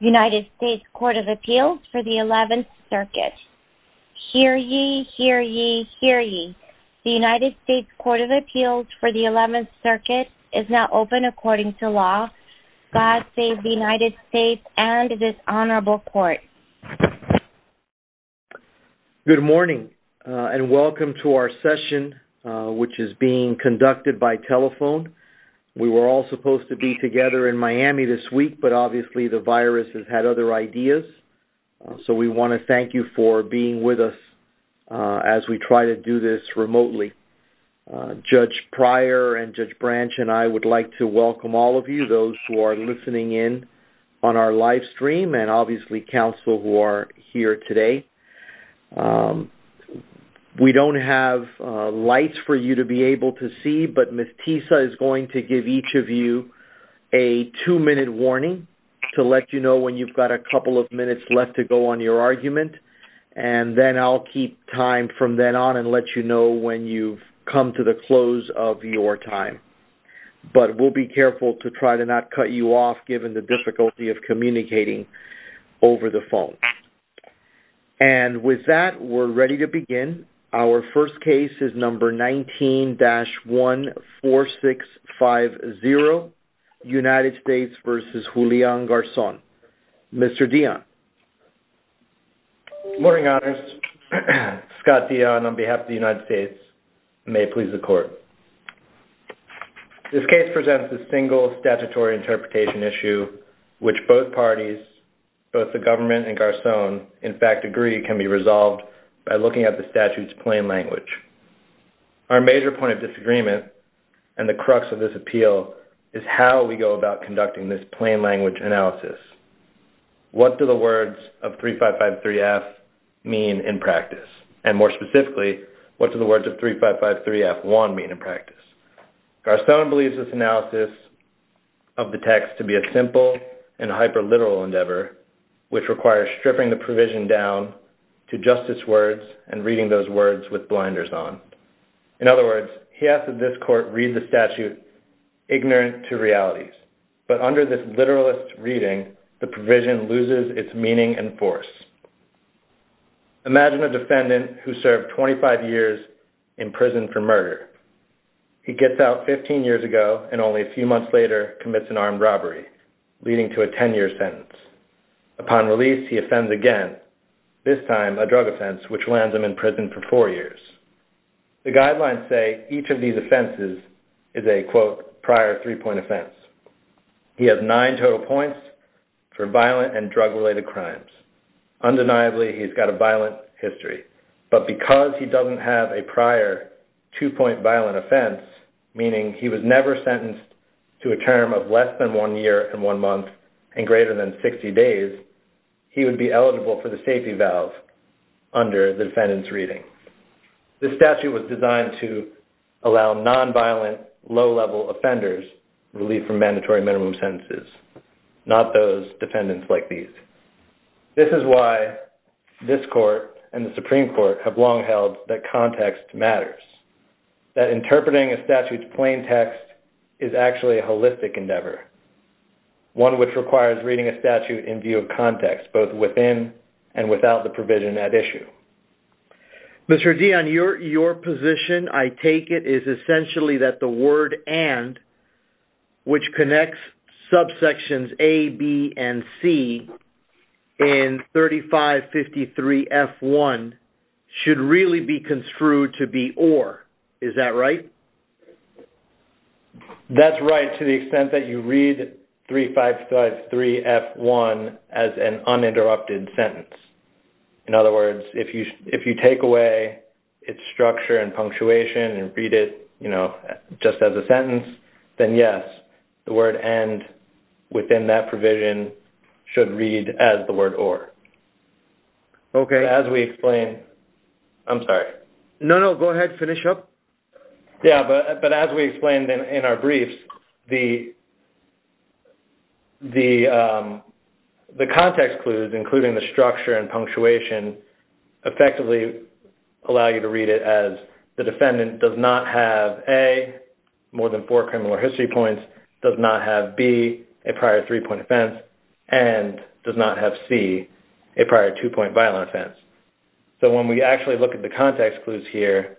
United States Court of Appeals for the 11th Circuit. Hear ye, hear ye, hear ye. The United States Court of Appeals for the 11th Circuit is now open according to law. God save the United States and this Honorable Court. Good morning and welcome to our session which is being conducted by telephone. We were all had other ideas so we want to thank you for being with us as we try to do this remotely. Judge Pryor and Judge Branch and I would like to welcome all of you those who are listening in on our live stream and obviously counsel who are here today. We don't have lights for you to be able to see but Ms. Tisa is going to give each of you a two-minute warning to let you know when you've got a couple of minutes left to go on your argument and then I'll keep time from then on and let you know when you've come to the close of your time. But we'll be careful to try to not cut you off given the difficulty of communicating over the phone. And with that we're ready to begin. Our first case is number 19-14650. United States versus Julián Garzón. Mr. Dion. Good morning, Honors. Scott Dion on behalf of the United States. May it please the Court. This case presents a single statutory interpretation issue which both parties, both the government and Garzón, in fact agree can be resolved by looking at the statute's appeal is how we go about conducting this plain language analysis. What do the words of 3553F mean in practice? And more specifically, what do the words of 3553F1 mean in practice? Garzón believes this analysis of the text to be a simple and hyperliteral endeavor which requires stripping the provision down to justice words and reading those words with blinders on. In other words, ignorant to realities. But under this literalist reading, the provision loses its meaning and force. Imagine a defendant who served 25 years in prison for murder. He gets out 15 years ago and only a few months later commits an armed robbery, leading to a 10-year sentence. Upon release, he offends again, this time a drug offense which lands him in prison for four years. The guidelines say each of these offenses is a, quote, prior three-point offense. He has nine total points for violent and drug-related crimes. Undeniably, he's got a violent history. But because he doesn't have a prior two-point violent offense, meaning he was never sentenced to a term of less than one year and one month and greater than 60 days, he would be eligible for the safety valve under the defendant's reading. This statute was designed to allow nonviolent, low-level offenders relief from mandatory minimum sentences, not those defendants like these. This is why this court and the Supreme Court have long held that context matters, that interpreting a statute's plain text is actually a holistic endeavor, one which requires reading a statute in view of context, both within and without the provision at issue. Mr. Dionne, your position, I take it, is essentially that the word and, which connects subsections A, B, and C in 3553F1 should really be construed to be or. Is that right? That's right, to the extent that you read 3553F1 as an uninterrupted sentence. In other words, if you take away its structure and punctuation and read it, you know, just as a sentence, then yes, the word and, within that provision, should read as the word or. Okay. As we explain, I'm sorry. No, no, go ahead, finish up. Yeah, but as we explained in our briefs, the context clues, including the structure and punctuation, effectively allow you to read it as the defendant does not have A, more than four criminal history points, does not have B, a prior three-point offense, and does not have C, a prior two-point violent offense. So when we actually look at the context clues here,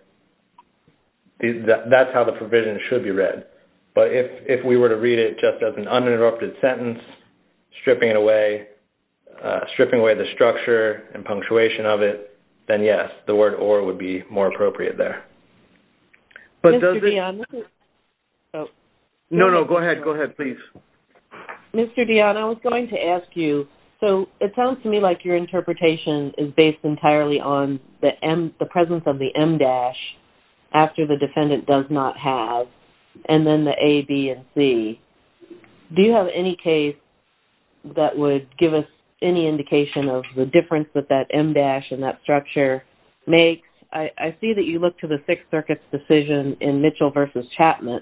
that's how the provision should be read. But if we were to read it just as an uninterrupted sentence, stripping it away, stripping away the structure and punctuation of it, then yes, the word or would be more appropriate there. But does it... Mr. Dionne, this is... No, no, go ahead, go ahead, please. Mr. Dionne, I was going to ask you, so it sounds to me like your interpretation is based entirely on the presence of the M- after the defendant does not have, and then the A, B, and C. Do you have any case that would give us any indication of the difference that that M- and that structure makes? I see that you look to the Sixth Circuit's decision in Mitchell v. Chapman,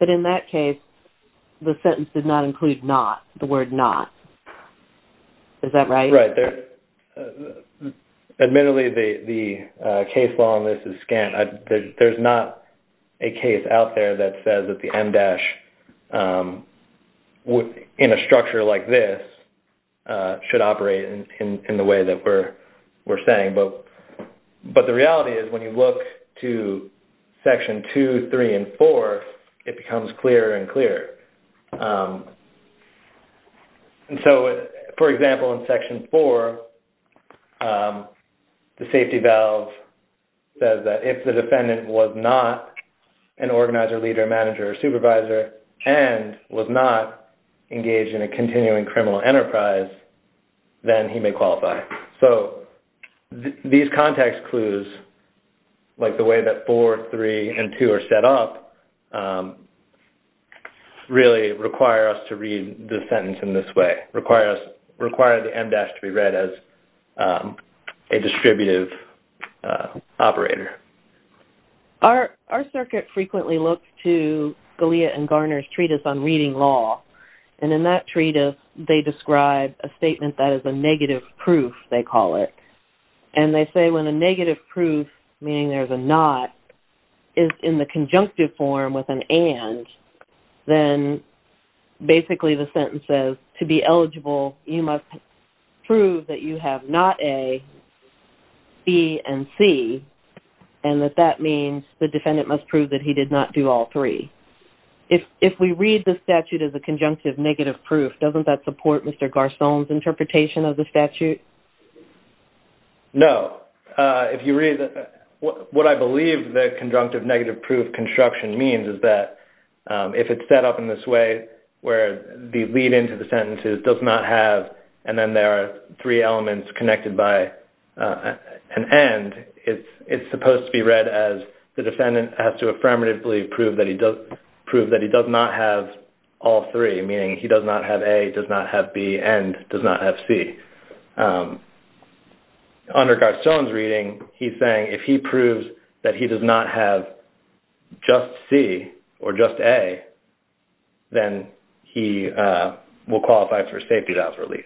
but in that case, the sentence did not include the word not. Is that right? Right. Admittedly, the case law on this is scant. There's not a case out there that says that the M- in a structure like this should operate in the way that we're saying. But the reality is when you look to Section 2, 3, and 4, it becomes clearer and clearer. And so, for example, in Section 4, the safety valve says that if the defendant was not an organizer, leader, manager, or supervisor, and was not engaged in a continuing criminal enterprise, then he may qualify. So these context clues, like the way that 4, 3, and 2 are set up, really require us to read the sentence in this way, require the M- to be read as a distributive operator. Our circuit frequently looks to Galea and Garner's treatise on reading law. And in that treatise, they describe a negative proof, meaning there's a not, is in the conjunctive form with an and, then basically the sentence says to be eligible, you must prove that you have not a, b, and c, and that that means the defendant must prove that he did not do all three. If we read the statute as a conjunctive negative proof, doesn't that support Mr. Garçon's if you read, what I believe the conjunctive negative proof construction means is that if it's set up in this way, where the lead into the sentence is does not have, and then there are three elements connected by an and, it's supposed to be read as the defendant has to affirmatively prove that he does not have all three, meaning he does not have a, does not have b, and does not have c. Under Garçon's reading, he's saying if he proves that he does not have just c or just a, then he will qualify for safety valve release.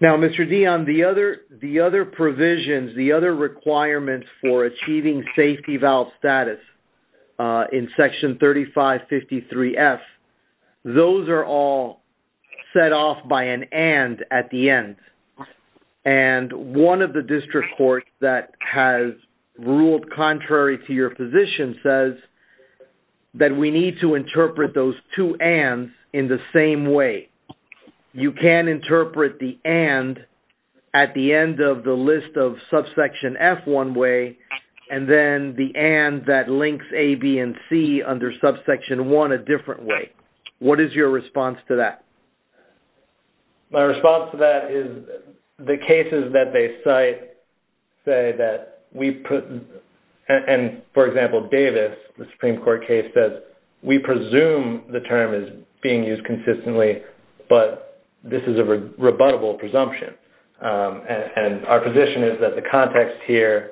Now, Mr. Dion, the other provisions, the other requirements for achieving safety valve status in section 3553F, those are all set off by an and at the end, and one of the district courts that has ruled contrary to your position says that we need to interpret those two ands in the same way. You can interpret the and at the end of the list of subsection F one way, and then the and that links a, b, and c under subsection one a different way. What is your response to that? My response to that is the cases that they cite say that we put, and for example, Davis, the Supreme Court case says we presume the term is being used consistently, but this is a context here,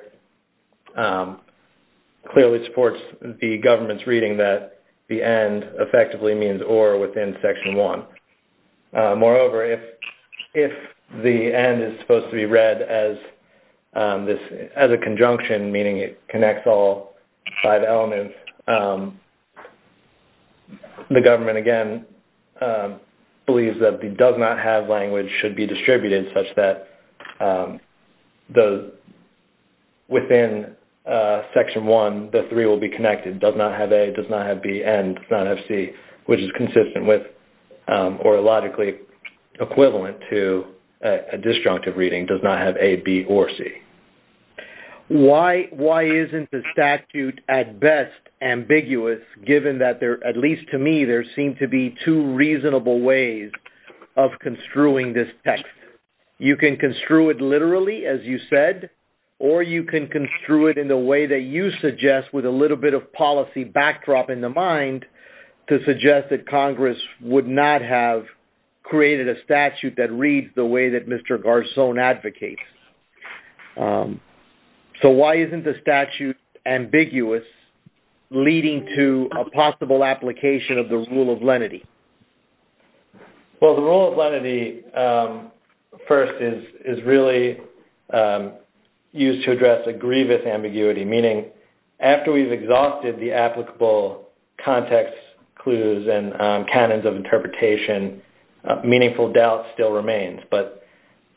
clearly supports the government's reading that the end effectively means or within section one. Moreover, if the end is supposed to be read as a conjunction, meaning it connects all five elements, the government, again, believes that the does not have language should be within section one, the three will be connected, does not have a, does not have b, and does not have c, which is consistent with or logically equivalent to a disjunctive reading, does not have a, b, or c. Why isn't the statute at best ambiguous given that there, at least to me, there seem to be two reasonable ways of construing this text? You can construe it literally as you said, or you can construe it in the way that you suggest with a little bit of policy backdrop in the mind to suggest that Congress would not have created a statute that reads the way that Mr. Garzon advocates. So why isn't the statute ambiguous leading to a possible application of the rule of lenity? Well, the rule of lenity first is really used to address a grievous ambiguity, meaning after we've exhausted the applicable context, clues, and canons of interpretation, meaningful doubt still remains. But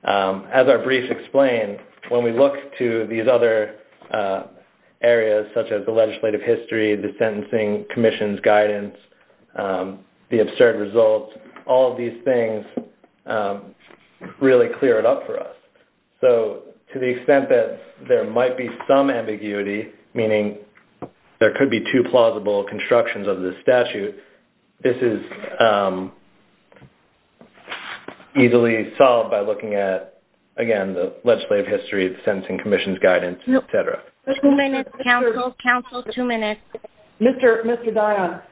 as our brief explained, when we look to these other areas such as the legislative history, the sentencing commission's guidance, the absurd results, all of these things really clear it up for us. So to the extent that there might be some ambiguity, meaning there could be two plausible constructions of this statute, this is easily solved by looking at, again, the legislative history, the sentencing commission's guidance, et cetera. Council, two minutes. Mr. Dionne,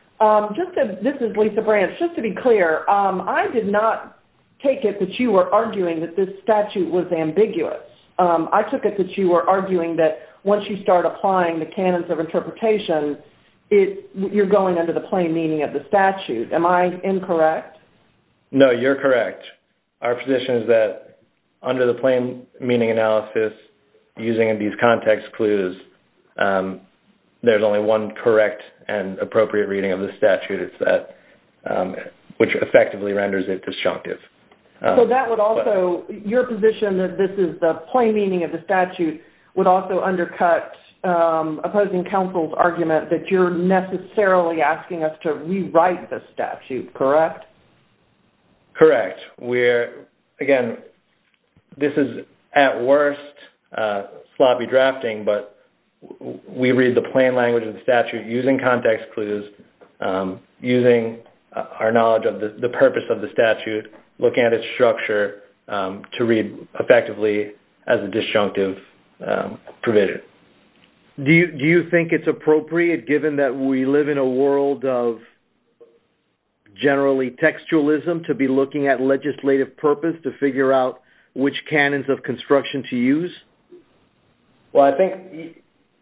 this is Lisa Branch. Just to be clear, I did not take it that you were arguing that this statute was ambiguous. I took it that you were arguing that once you start applying the canons of interpretation, you're going under the plain meaning of the statute. Am I incorrect? No, you're correct. Our position is that under the plain meaning analysis, using these context clues, there's only one correct and appropriate reading of the statute. It's that which effectively renders it disjunctive. So that would also, your position that this is the plain meaning of the statute would also rewrite the statute, correct? Correct. Again, this is at worst sloppy drafting, but we read the plain language of the statute using context clues, using our knowledge of the purpose of the statute, looking at its structure to read effectively as a disjunctive provision. Do you think it's appropriate, given that we live in a world of generally textualism, to be looking at legislative purpose to figure out which canons of construction to use? Well, I think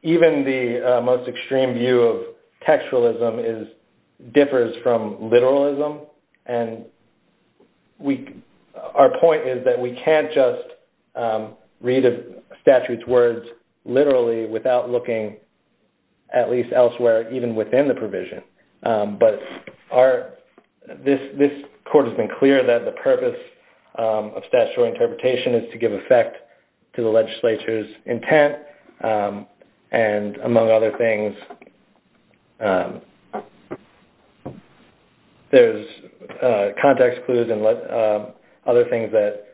even the most extreme view of textualism differs from literalism. And our point is that we can't just read a statute's words literally without looking at least elsewhere, even within the provision. But this court has been clear that the purpose of statutory interpretation is to give effect to the legislature's intent. And among other things, there's context clues and other things that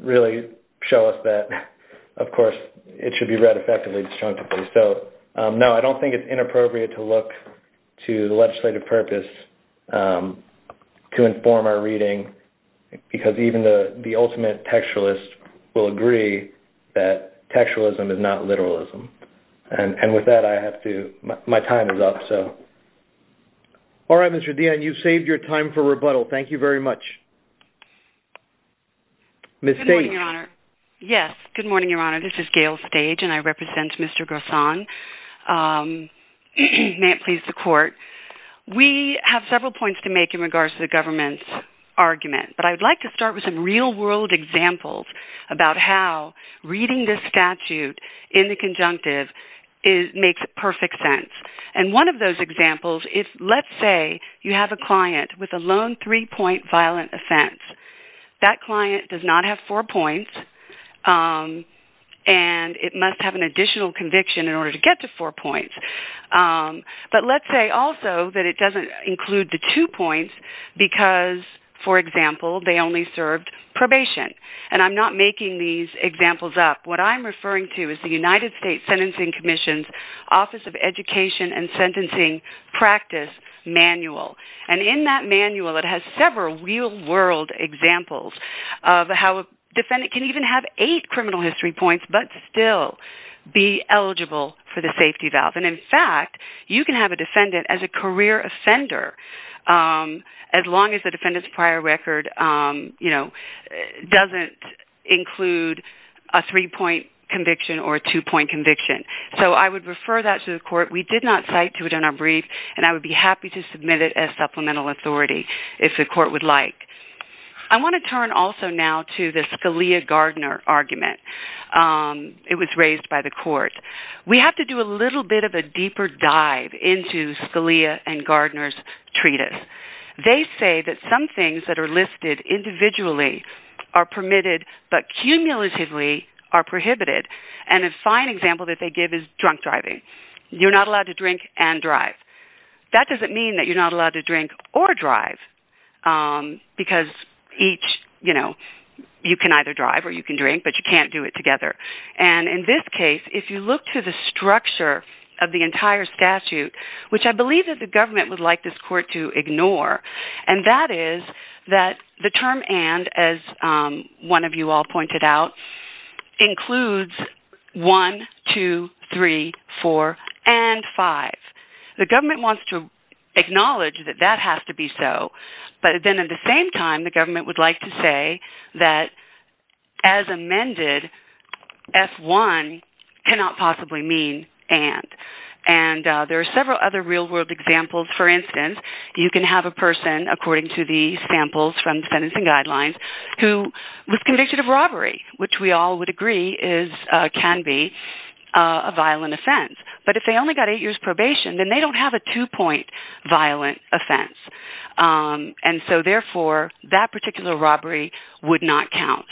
really show us that, of course, it should be read effectively, disjunctively. So, no, I don't think it's inappropriate to look to the legislative purpose to inform our reading, because even the ultimate textualist will agree that textualism is not literalism. And with that, my time is up. All right, Mr. Dionne, you've saved your time for rebuttal. Thank you very much. Good morning, Your Honor. Yes, good morning, Your Honor. This is Gail Stage, and I represent Mr. Garcon. May it please the court. We have several points to make in regards to the government's argument, but I'd like to start with some real-world examples about how reading this statute in the conjunctive makes perfect sense. And one of those examples is, let's say you have a client with a lone three-point violent offense. That client does not have four points, and it must have an additional conviction in order to get to four points. But let's say also that it doesn't include the two points because, for example, they only served probation. And I'm not making these examples up. What I'm referring to is the United States Sentencing Commission's Office of Education and Sentencing Practice Manual. And in that manual, it has several real-world examples of how a defendant can even have eight criminal history points but still be eligible for the safety valve. And in fact, you can have a defendant as a career offender as long as the defendant's prior record doesn't include a three-point conviction or a two-point conviction. So I would refer that to the court. We did not cite to it in our brief, and I would be happy to submit it as supplemental authority if the court would like. I want to turn also now to the Scalia-Gardner argument. It was raised by the court. We have to do a little bit of a deeper dive into Scalia and Gardner's treatise. They say that some things that are listed individually are permitted but cumulatively are prohibited. And a fine example that they give is drunk driving. You're not allowed to drink and drive. That doesn't mean that you're not allowed to drink or drive because each, you know, you can either drive or you can drink, but you can't do it together. And in this case, if you look to the structure of the entire statute, which I believe that the government would like this court to ignore, and that is that the term and, as one of you all pointed out, includes one, two, three, four, and five. The government wants to acknowledge that that has to be so, but then at the same time, the government would like to say that as amended, F1 cannot possibly mean and. And there are several other real world examples. For instance, you can have a person, according to the samples from the sentencing guidelines, who was convicted of robbery, which we all would agree is, can be a violent offense. But if they only got eight years probation, then they don't have a two-point violent offense. And so therefore, that particular robbery would not count.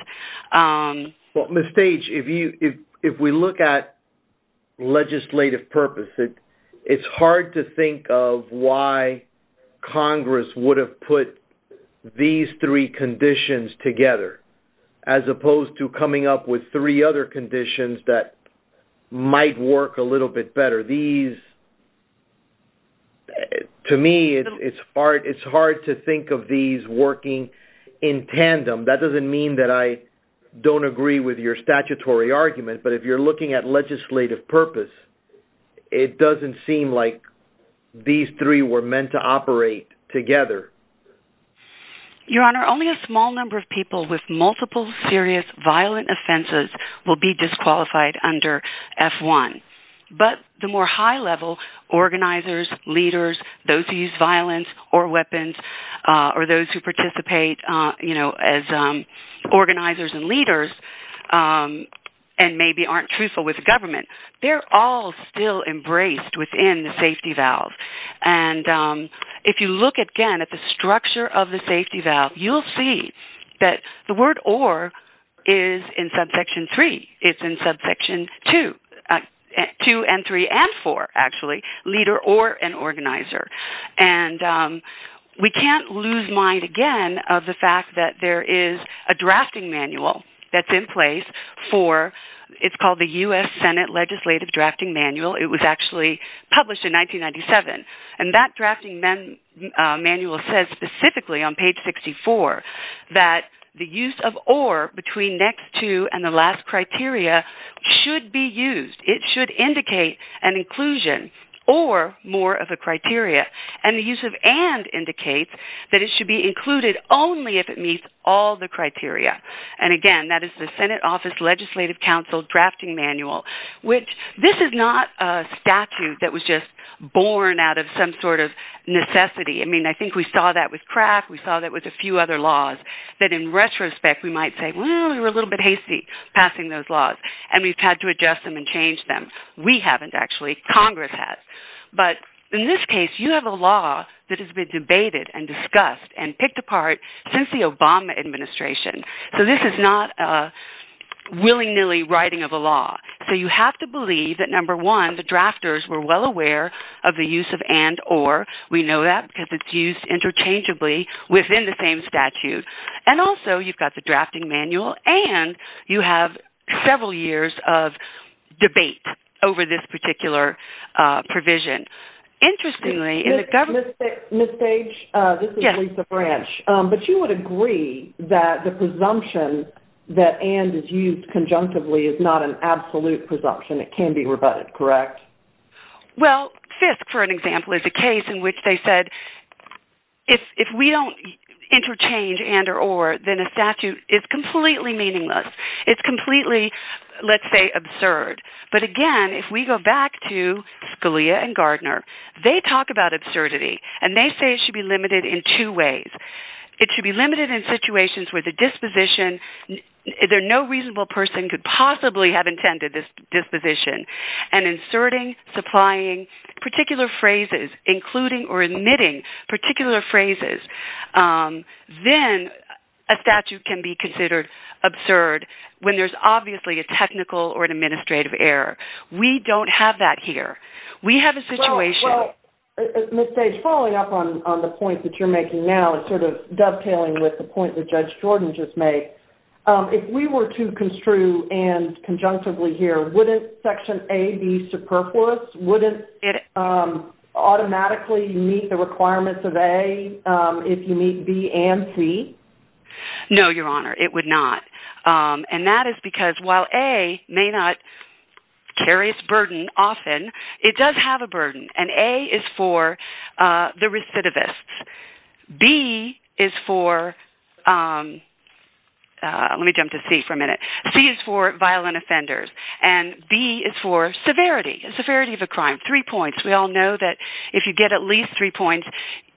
Well, Ms. Stage, if we look at legislative purpose, it's hard to think of why Congress would have put these three conditions together, as opposed to coming up with three other conditions that might work a little bit better. To me, it's hard to think of these working in tandem. That doesn't mean that I don't agree with your statutory argument, but if you're looking at legislative purpose, it doesn't seem like these three were meant to operate together. Your Honor, only a small number of people with multiple serious violent offenses will be disqualified under F1. But the more high-level organizers, leaders, those who use violence or weapons, or those who participate as organizers and leaders, and maybe aren't truthful with the government, they're all still embraced within the safety valve. And if you look again at the structure of the safety valve, you'll see that the word or is in subsection three. It's in subsection two, two and three and four, actually, leader or an organizer. And we can't lose mind again of the fact that there is a drafting manual that's in place for, it's called the U.S. Senate Legislative Drafting Manual. It was actually published in 1997. And that drafting manual specifically on page 64 that the use of or between next two and the last criteria should be used. It should indicate an inclusion or more of a criteria. And the use of and indicates that it should be included only if it meets all the criteria. And again, that is the Senate Office Legislative Council Drafting Manual, which this is not a statute that was just born out of some sort of we saw that with Kraft, we saw that with a few other laws, that in retrospect, we might say, well, we were a little bit hasty passing those laws. And we've had to adjust them and change them. We haven't actually, Congress has. But in this case, you have a law that has been debated and discussed and picked apart since the Obama administration. So this is not a willy nilly writing of a law. So you have to believe that number one, the drafters were well aware of the use of and or, we know that because it's used interchangeably within the same statute. And also you've got the drafting manual and you have several years of debate over this particular provision. Interestingly, in the government... Ms. Page, this is Lisa Branch. But you would agree that the presumption that and is used conjunctively is not an absolute presumption. It can be rebutted, correct? Well, Fisk, for an example, is a case in which they said, if we don't interchange and or, then a statute is completely meaningless. It's completely, let's say, absurd. But again, if we go back to Scalia and Gardner, they talk about absurdity, and they say it should be limited in two ways. It should be limited in situations where the disposition, there's no reasonable person could possibly have intended this disposition. And inserting, supplying particular phrases, including or admitting particular phrases, then a statute can be considered absurd when there's obviously a technical or an administrative error. We don't have that here. We have a situation... Ms. Page, following up on the point that you're making now, it's sort of dovetailing with the point that Judge Jordan just made. If we were to construe and conjunctively here, wouldn't Section A be superfluous? Wouldn't it automatically meet the requirements of A if you meet B and C? No, Your Honor, it would not. And that is because while A may not carry its burden often, it does have a burden. And A is for the recidivists. B is for, let me jump to C for a minute. C is for violent offenders. And B is for severity, severity of a crime. Three points. We all know that if you get at least three points,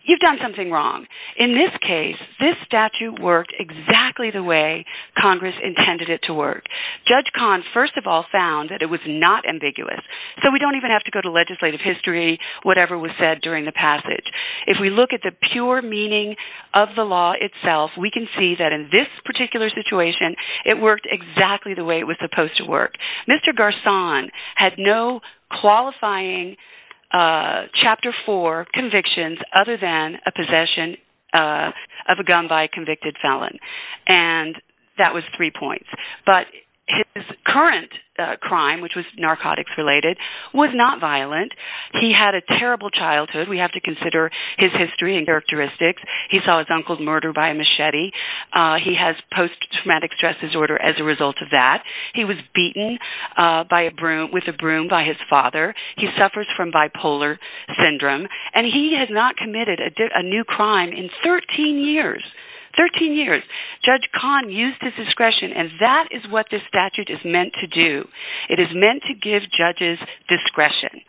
you've done something wrong. In this case, this statute worked exactly the way Congress intended it to work. Judge Kahn, first of all, found that it was not ambiguous. So we don't even have to go to legislative history, whatever was said during the passage. If we look at the pure meaning of the law itself, we can see that in this particular situation, it worked exactly the way it was supposed to work. Mr. Garson had no qualifying Chapter 4 convictions other than a possession of a gun by a convicted felon. And that was three points. But his current crime, which was narcotics related, was not violent. He had a terrible childhood. We have to consider his history and characteristics. He saw his uncle's murder by a machete. He has post-traumatic stress disorder as a result of that. He was beaten with a broom by his father. He suffers from bipolar syndrome. And he has not committed a new crime in 13 years. Thirteen years. Judge Kahn used his discretion, and that is what this statute is meant to do. It is meant to give judges discretion.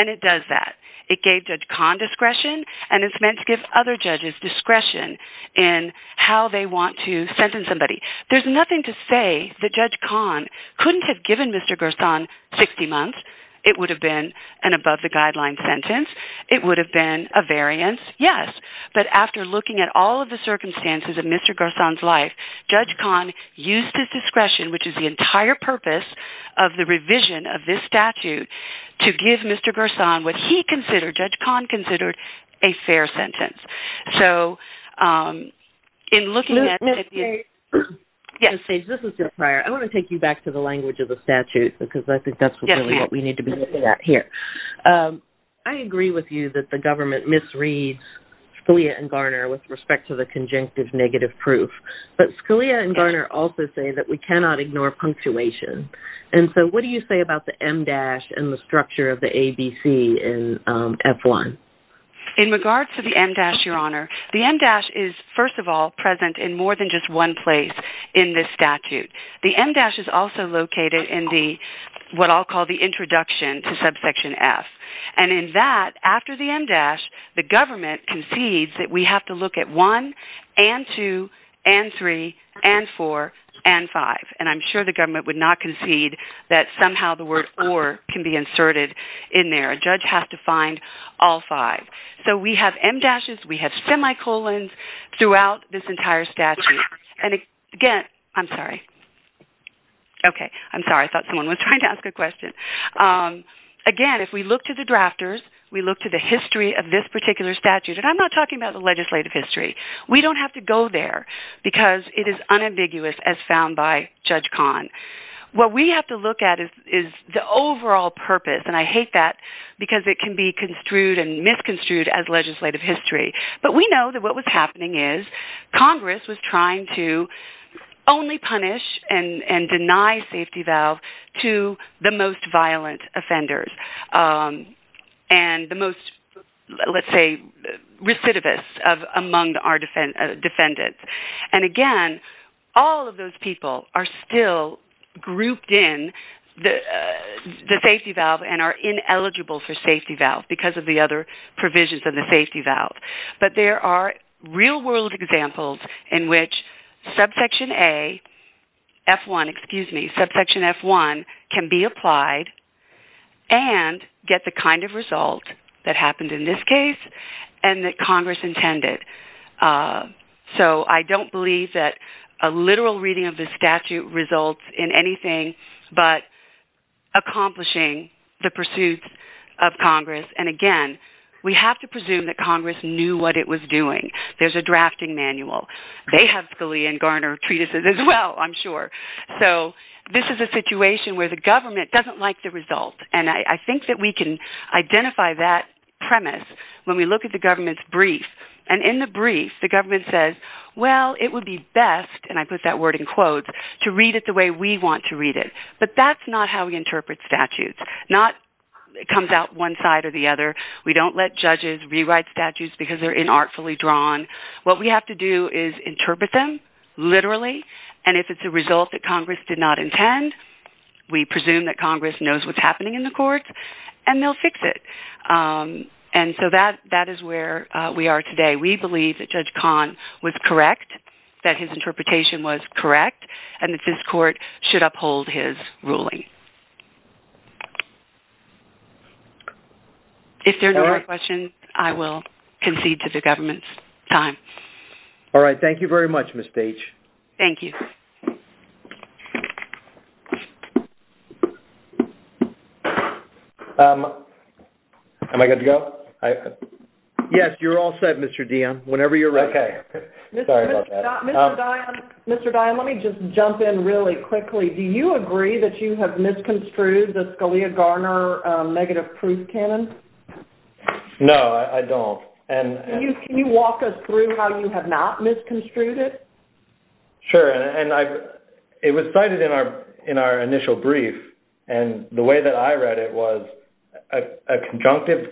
And it does that. It gave Judge Kahn discretion, and it's meant to give other judges discretion in how they want to sentence somebody. There's nothing to say that Judge Kahn couldn't have given Mr. Garson 60 months. It would have been an above-the-guideline sentence. It would have been a variance, yes. But after looking at all the circumstances of Mr. Garson's life, Judge Kahn used his discretion, which is the entire purpose of the revision of this statute, to give Mr. Garson what he considered, Judge Kahn considered, a fair sentence. So in looking at... Ms. Page, this is Jill Pryor. I want to take you back to the language of the statute because I think that's really what we need to be looking at here. I agree with you that the government misreads Scalia and Garner with respect to the conjunctive negative proof. But Scalia and Garner also say that we cannot ignore punctuation. And so what do you say about the MDASH and the structure of the ABC in F-1? In regards to the MDASH, Your Honor, the MDASH is, first of all, present in more than just one place in this statute. The MDASH is also located in what I'll call the introduction to subsection F. And in that, after the MDASH, the government concedes that we have to look at one and two and three and four and five. And I'm sure the government would not concede that somehow the word or can be inserted in there. A judge has to find all five. So we have MDASHs, we have semicolons throughout this entire statute. And again... I'm sorry. Okay. I'm sorry. I thought someone was trying to ask a question. Again, if we look to the drafters, we look to the history of this particular statute, and I'm not talking about the legislative history. We don't have to go there because it is unambiguous as found by Judge Kahn. What we have to look at is the overall purpose. And I hate that because it can be construed and misconstrued as legislative history. But we know that what was offenders and the most, let's say, recidivists among our defendants. And again, all of those people are still grouped in the safety valve and are ineligible for safety valve because of the other provisions of the safety valve. But there are real world examples in which subsection A, F1, excuse me, subsection F1 can be applied and get the kind of result that happened in this case and that Congress intended. So I don't believe that a literal reading of the statute results in anything but accomplishing the pursuits of Congress. And again, we have to presume that Congress knew what it was doing. There's a drafting manual. They have Scalia and Garner treatises as well, I'm sure. So this is a situation where the government doesn't like the result. And I think that we can identify that premise when we look at the government's brief. And in the brief, the government says, well, it would be best, and I put that word in quotes, to read it the way we want to read it. But that's not how we interpret statutes. It comes out one side or the other. We don't let judges rewrite statutes because they're inartfully drawn. What we have to do is interpret them literally. And if it's a result that Congress did not intend, we presume that Congress knows what's happening in the court and they'll fix it. And so that is where we are today. We believe that Judge Kahn was correct, that his interpretation was correct, and that this court should uphold his ruling. If there are no more questions, I will concede to the government's time. All right. Thank you very much, Ms. Page. Thank you. Am I good to go? Yes, you're all set, Mr. Dionne, whenever you're ready. Okay. Sorry about that. Mr. Dionne, let me just jump in really quickly. Do you agree that you have done misconstrued the Scalia-Garner negative proof canon? No, I don't. And... Can you walk us through how you have not misconstrued it? Sure. And it was cited in our initial brief. And the way that I read it was, a conjunctive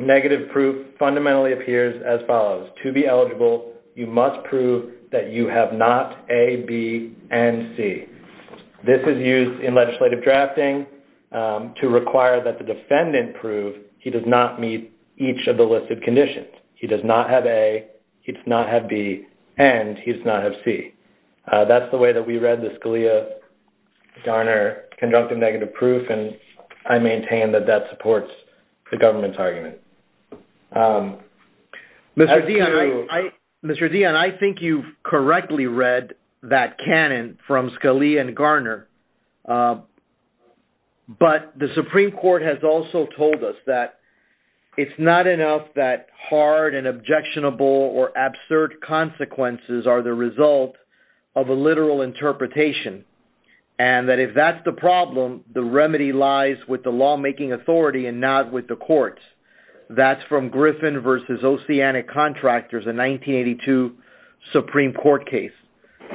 negative proof fundamentally appears as follows. To be eligible, you must prove that you have not A, B, and C. This is used in legislative drafting to require that the defendant prove he does not meet each of the listed conditions. He does not have A, he does not have B, and he does not have C. That's the way that we read the Scalia-Garner conjunctive negative proof. And I maintain that that supports the government's argument. Mr. Dionne, I think you've correctly read that canon from Scalia and Garner. But the Supreme Court has also told us that it's not enough that hard and objectionable or absurd consequences are the result of a literal interpretation. And that if that's the that's from Griffin versus Oceanic Contractors, a 1982 Supreme Court case,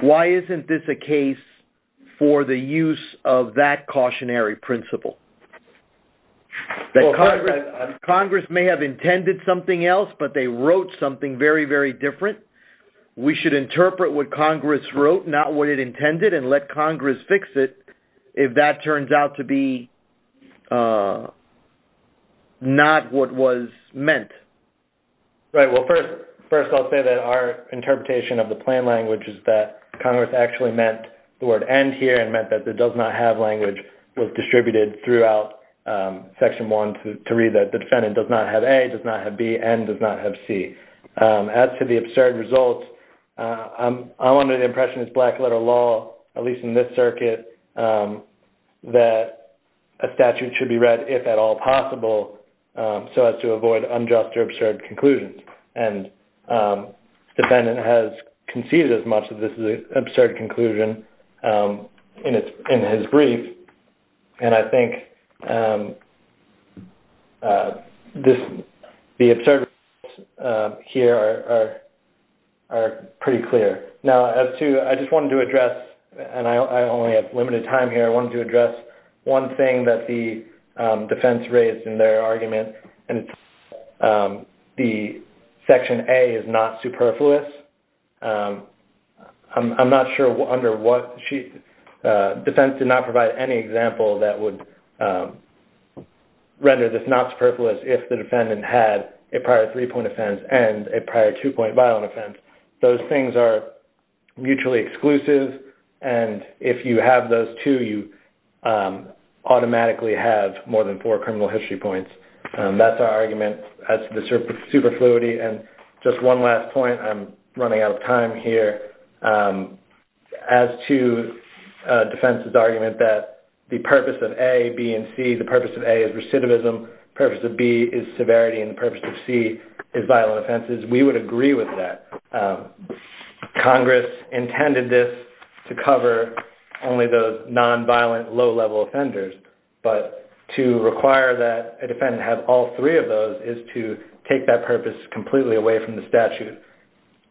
why isn't this a case for the use of that cautionary principle? Congress may have intended something else, but they wrote something very, very different. We should interpret what Congress wrote, not what it intended, and let Congress fix it. If that turns out to be not what was meant. Right. Well, first, I'll say that our interpretation of the plain language is that Congress actually meant the word end here and meant that the does not have language was distributed throughout Section 1 to read that the defendant does not have A, does not have B, and does not have C. As to the absurd results, I wanted the impression as black letter law, at least in this circuit, that a statute should be read if at all possible so as to avoid unjust or absurd conclusions. And the defendant has conceded as much of this is an absurd conclusion in his brief. And I think the absurd here are pretty clear. Now, as to, I just wanted to address, and I only have limited time here, I wanted to address one thing that the defense raised in their argument, and it's that the Section A is not superfluous. I'm not sure under what she, defense did not provide any example that would render this not superfluous if the defendant had a prior three-point offense and a prior two-point violent offense. Those things are mutually exclusive, and if you have those two, you automatically have more than four criminal history points. That's our argument as to the superfluity. And just one last point, I'm running out of time here. As to defense's argument that the purpose of A, B, and C, the purpose of A is recidivism, purpose of B is severity, and the purpose of C is violent offenses, we would agree with that. Congress intended this to cover only those nonviolent low-level offenders, but to require that a defendant have all three of those is to take that purpose completely away from the statute.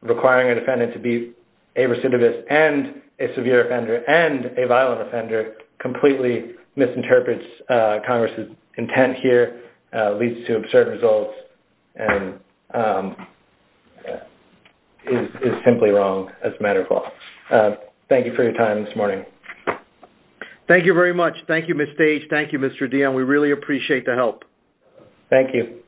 Requiring a defendant to be a recidivist and a severe offender and a violent offender completely misinterprets Congress's intent here, leads to absurd results, and is simply wrong as a matter of law. Thank you for your time this morning. Thank you very much. Thank you, Ms. Stage. Thank you, Mr. Dionne. We really appreciate the help. Thank you.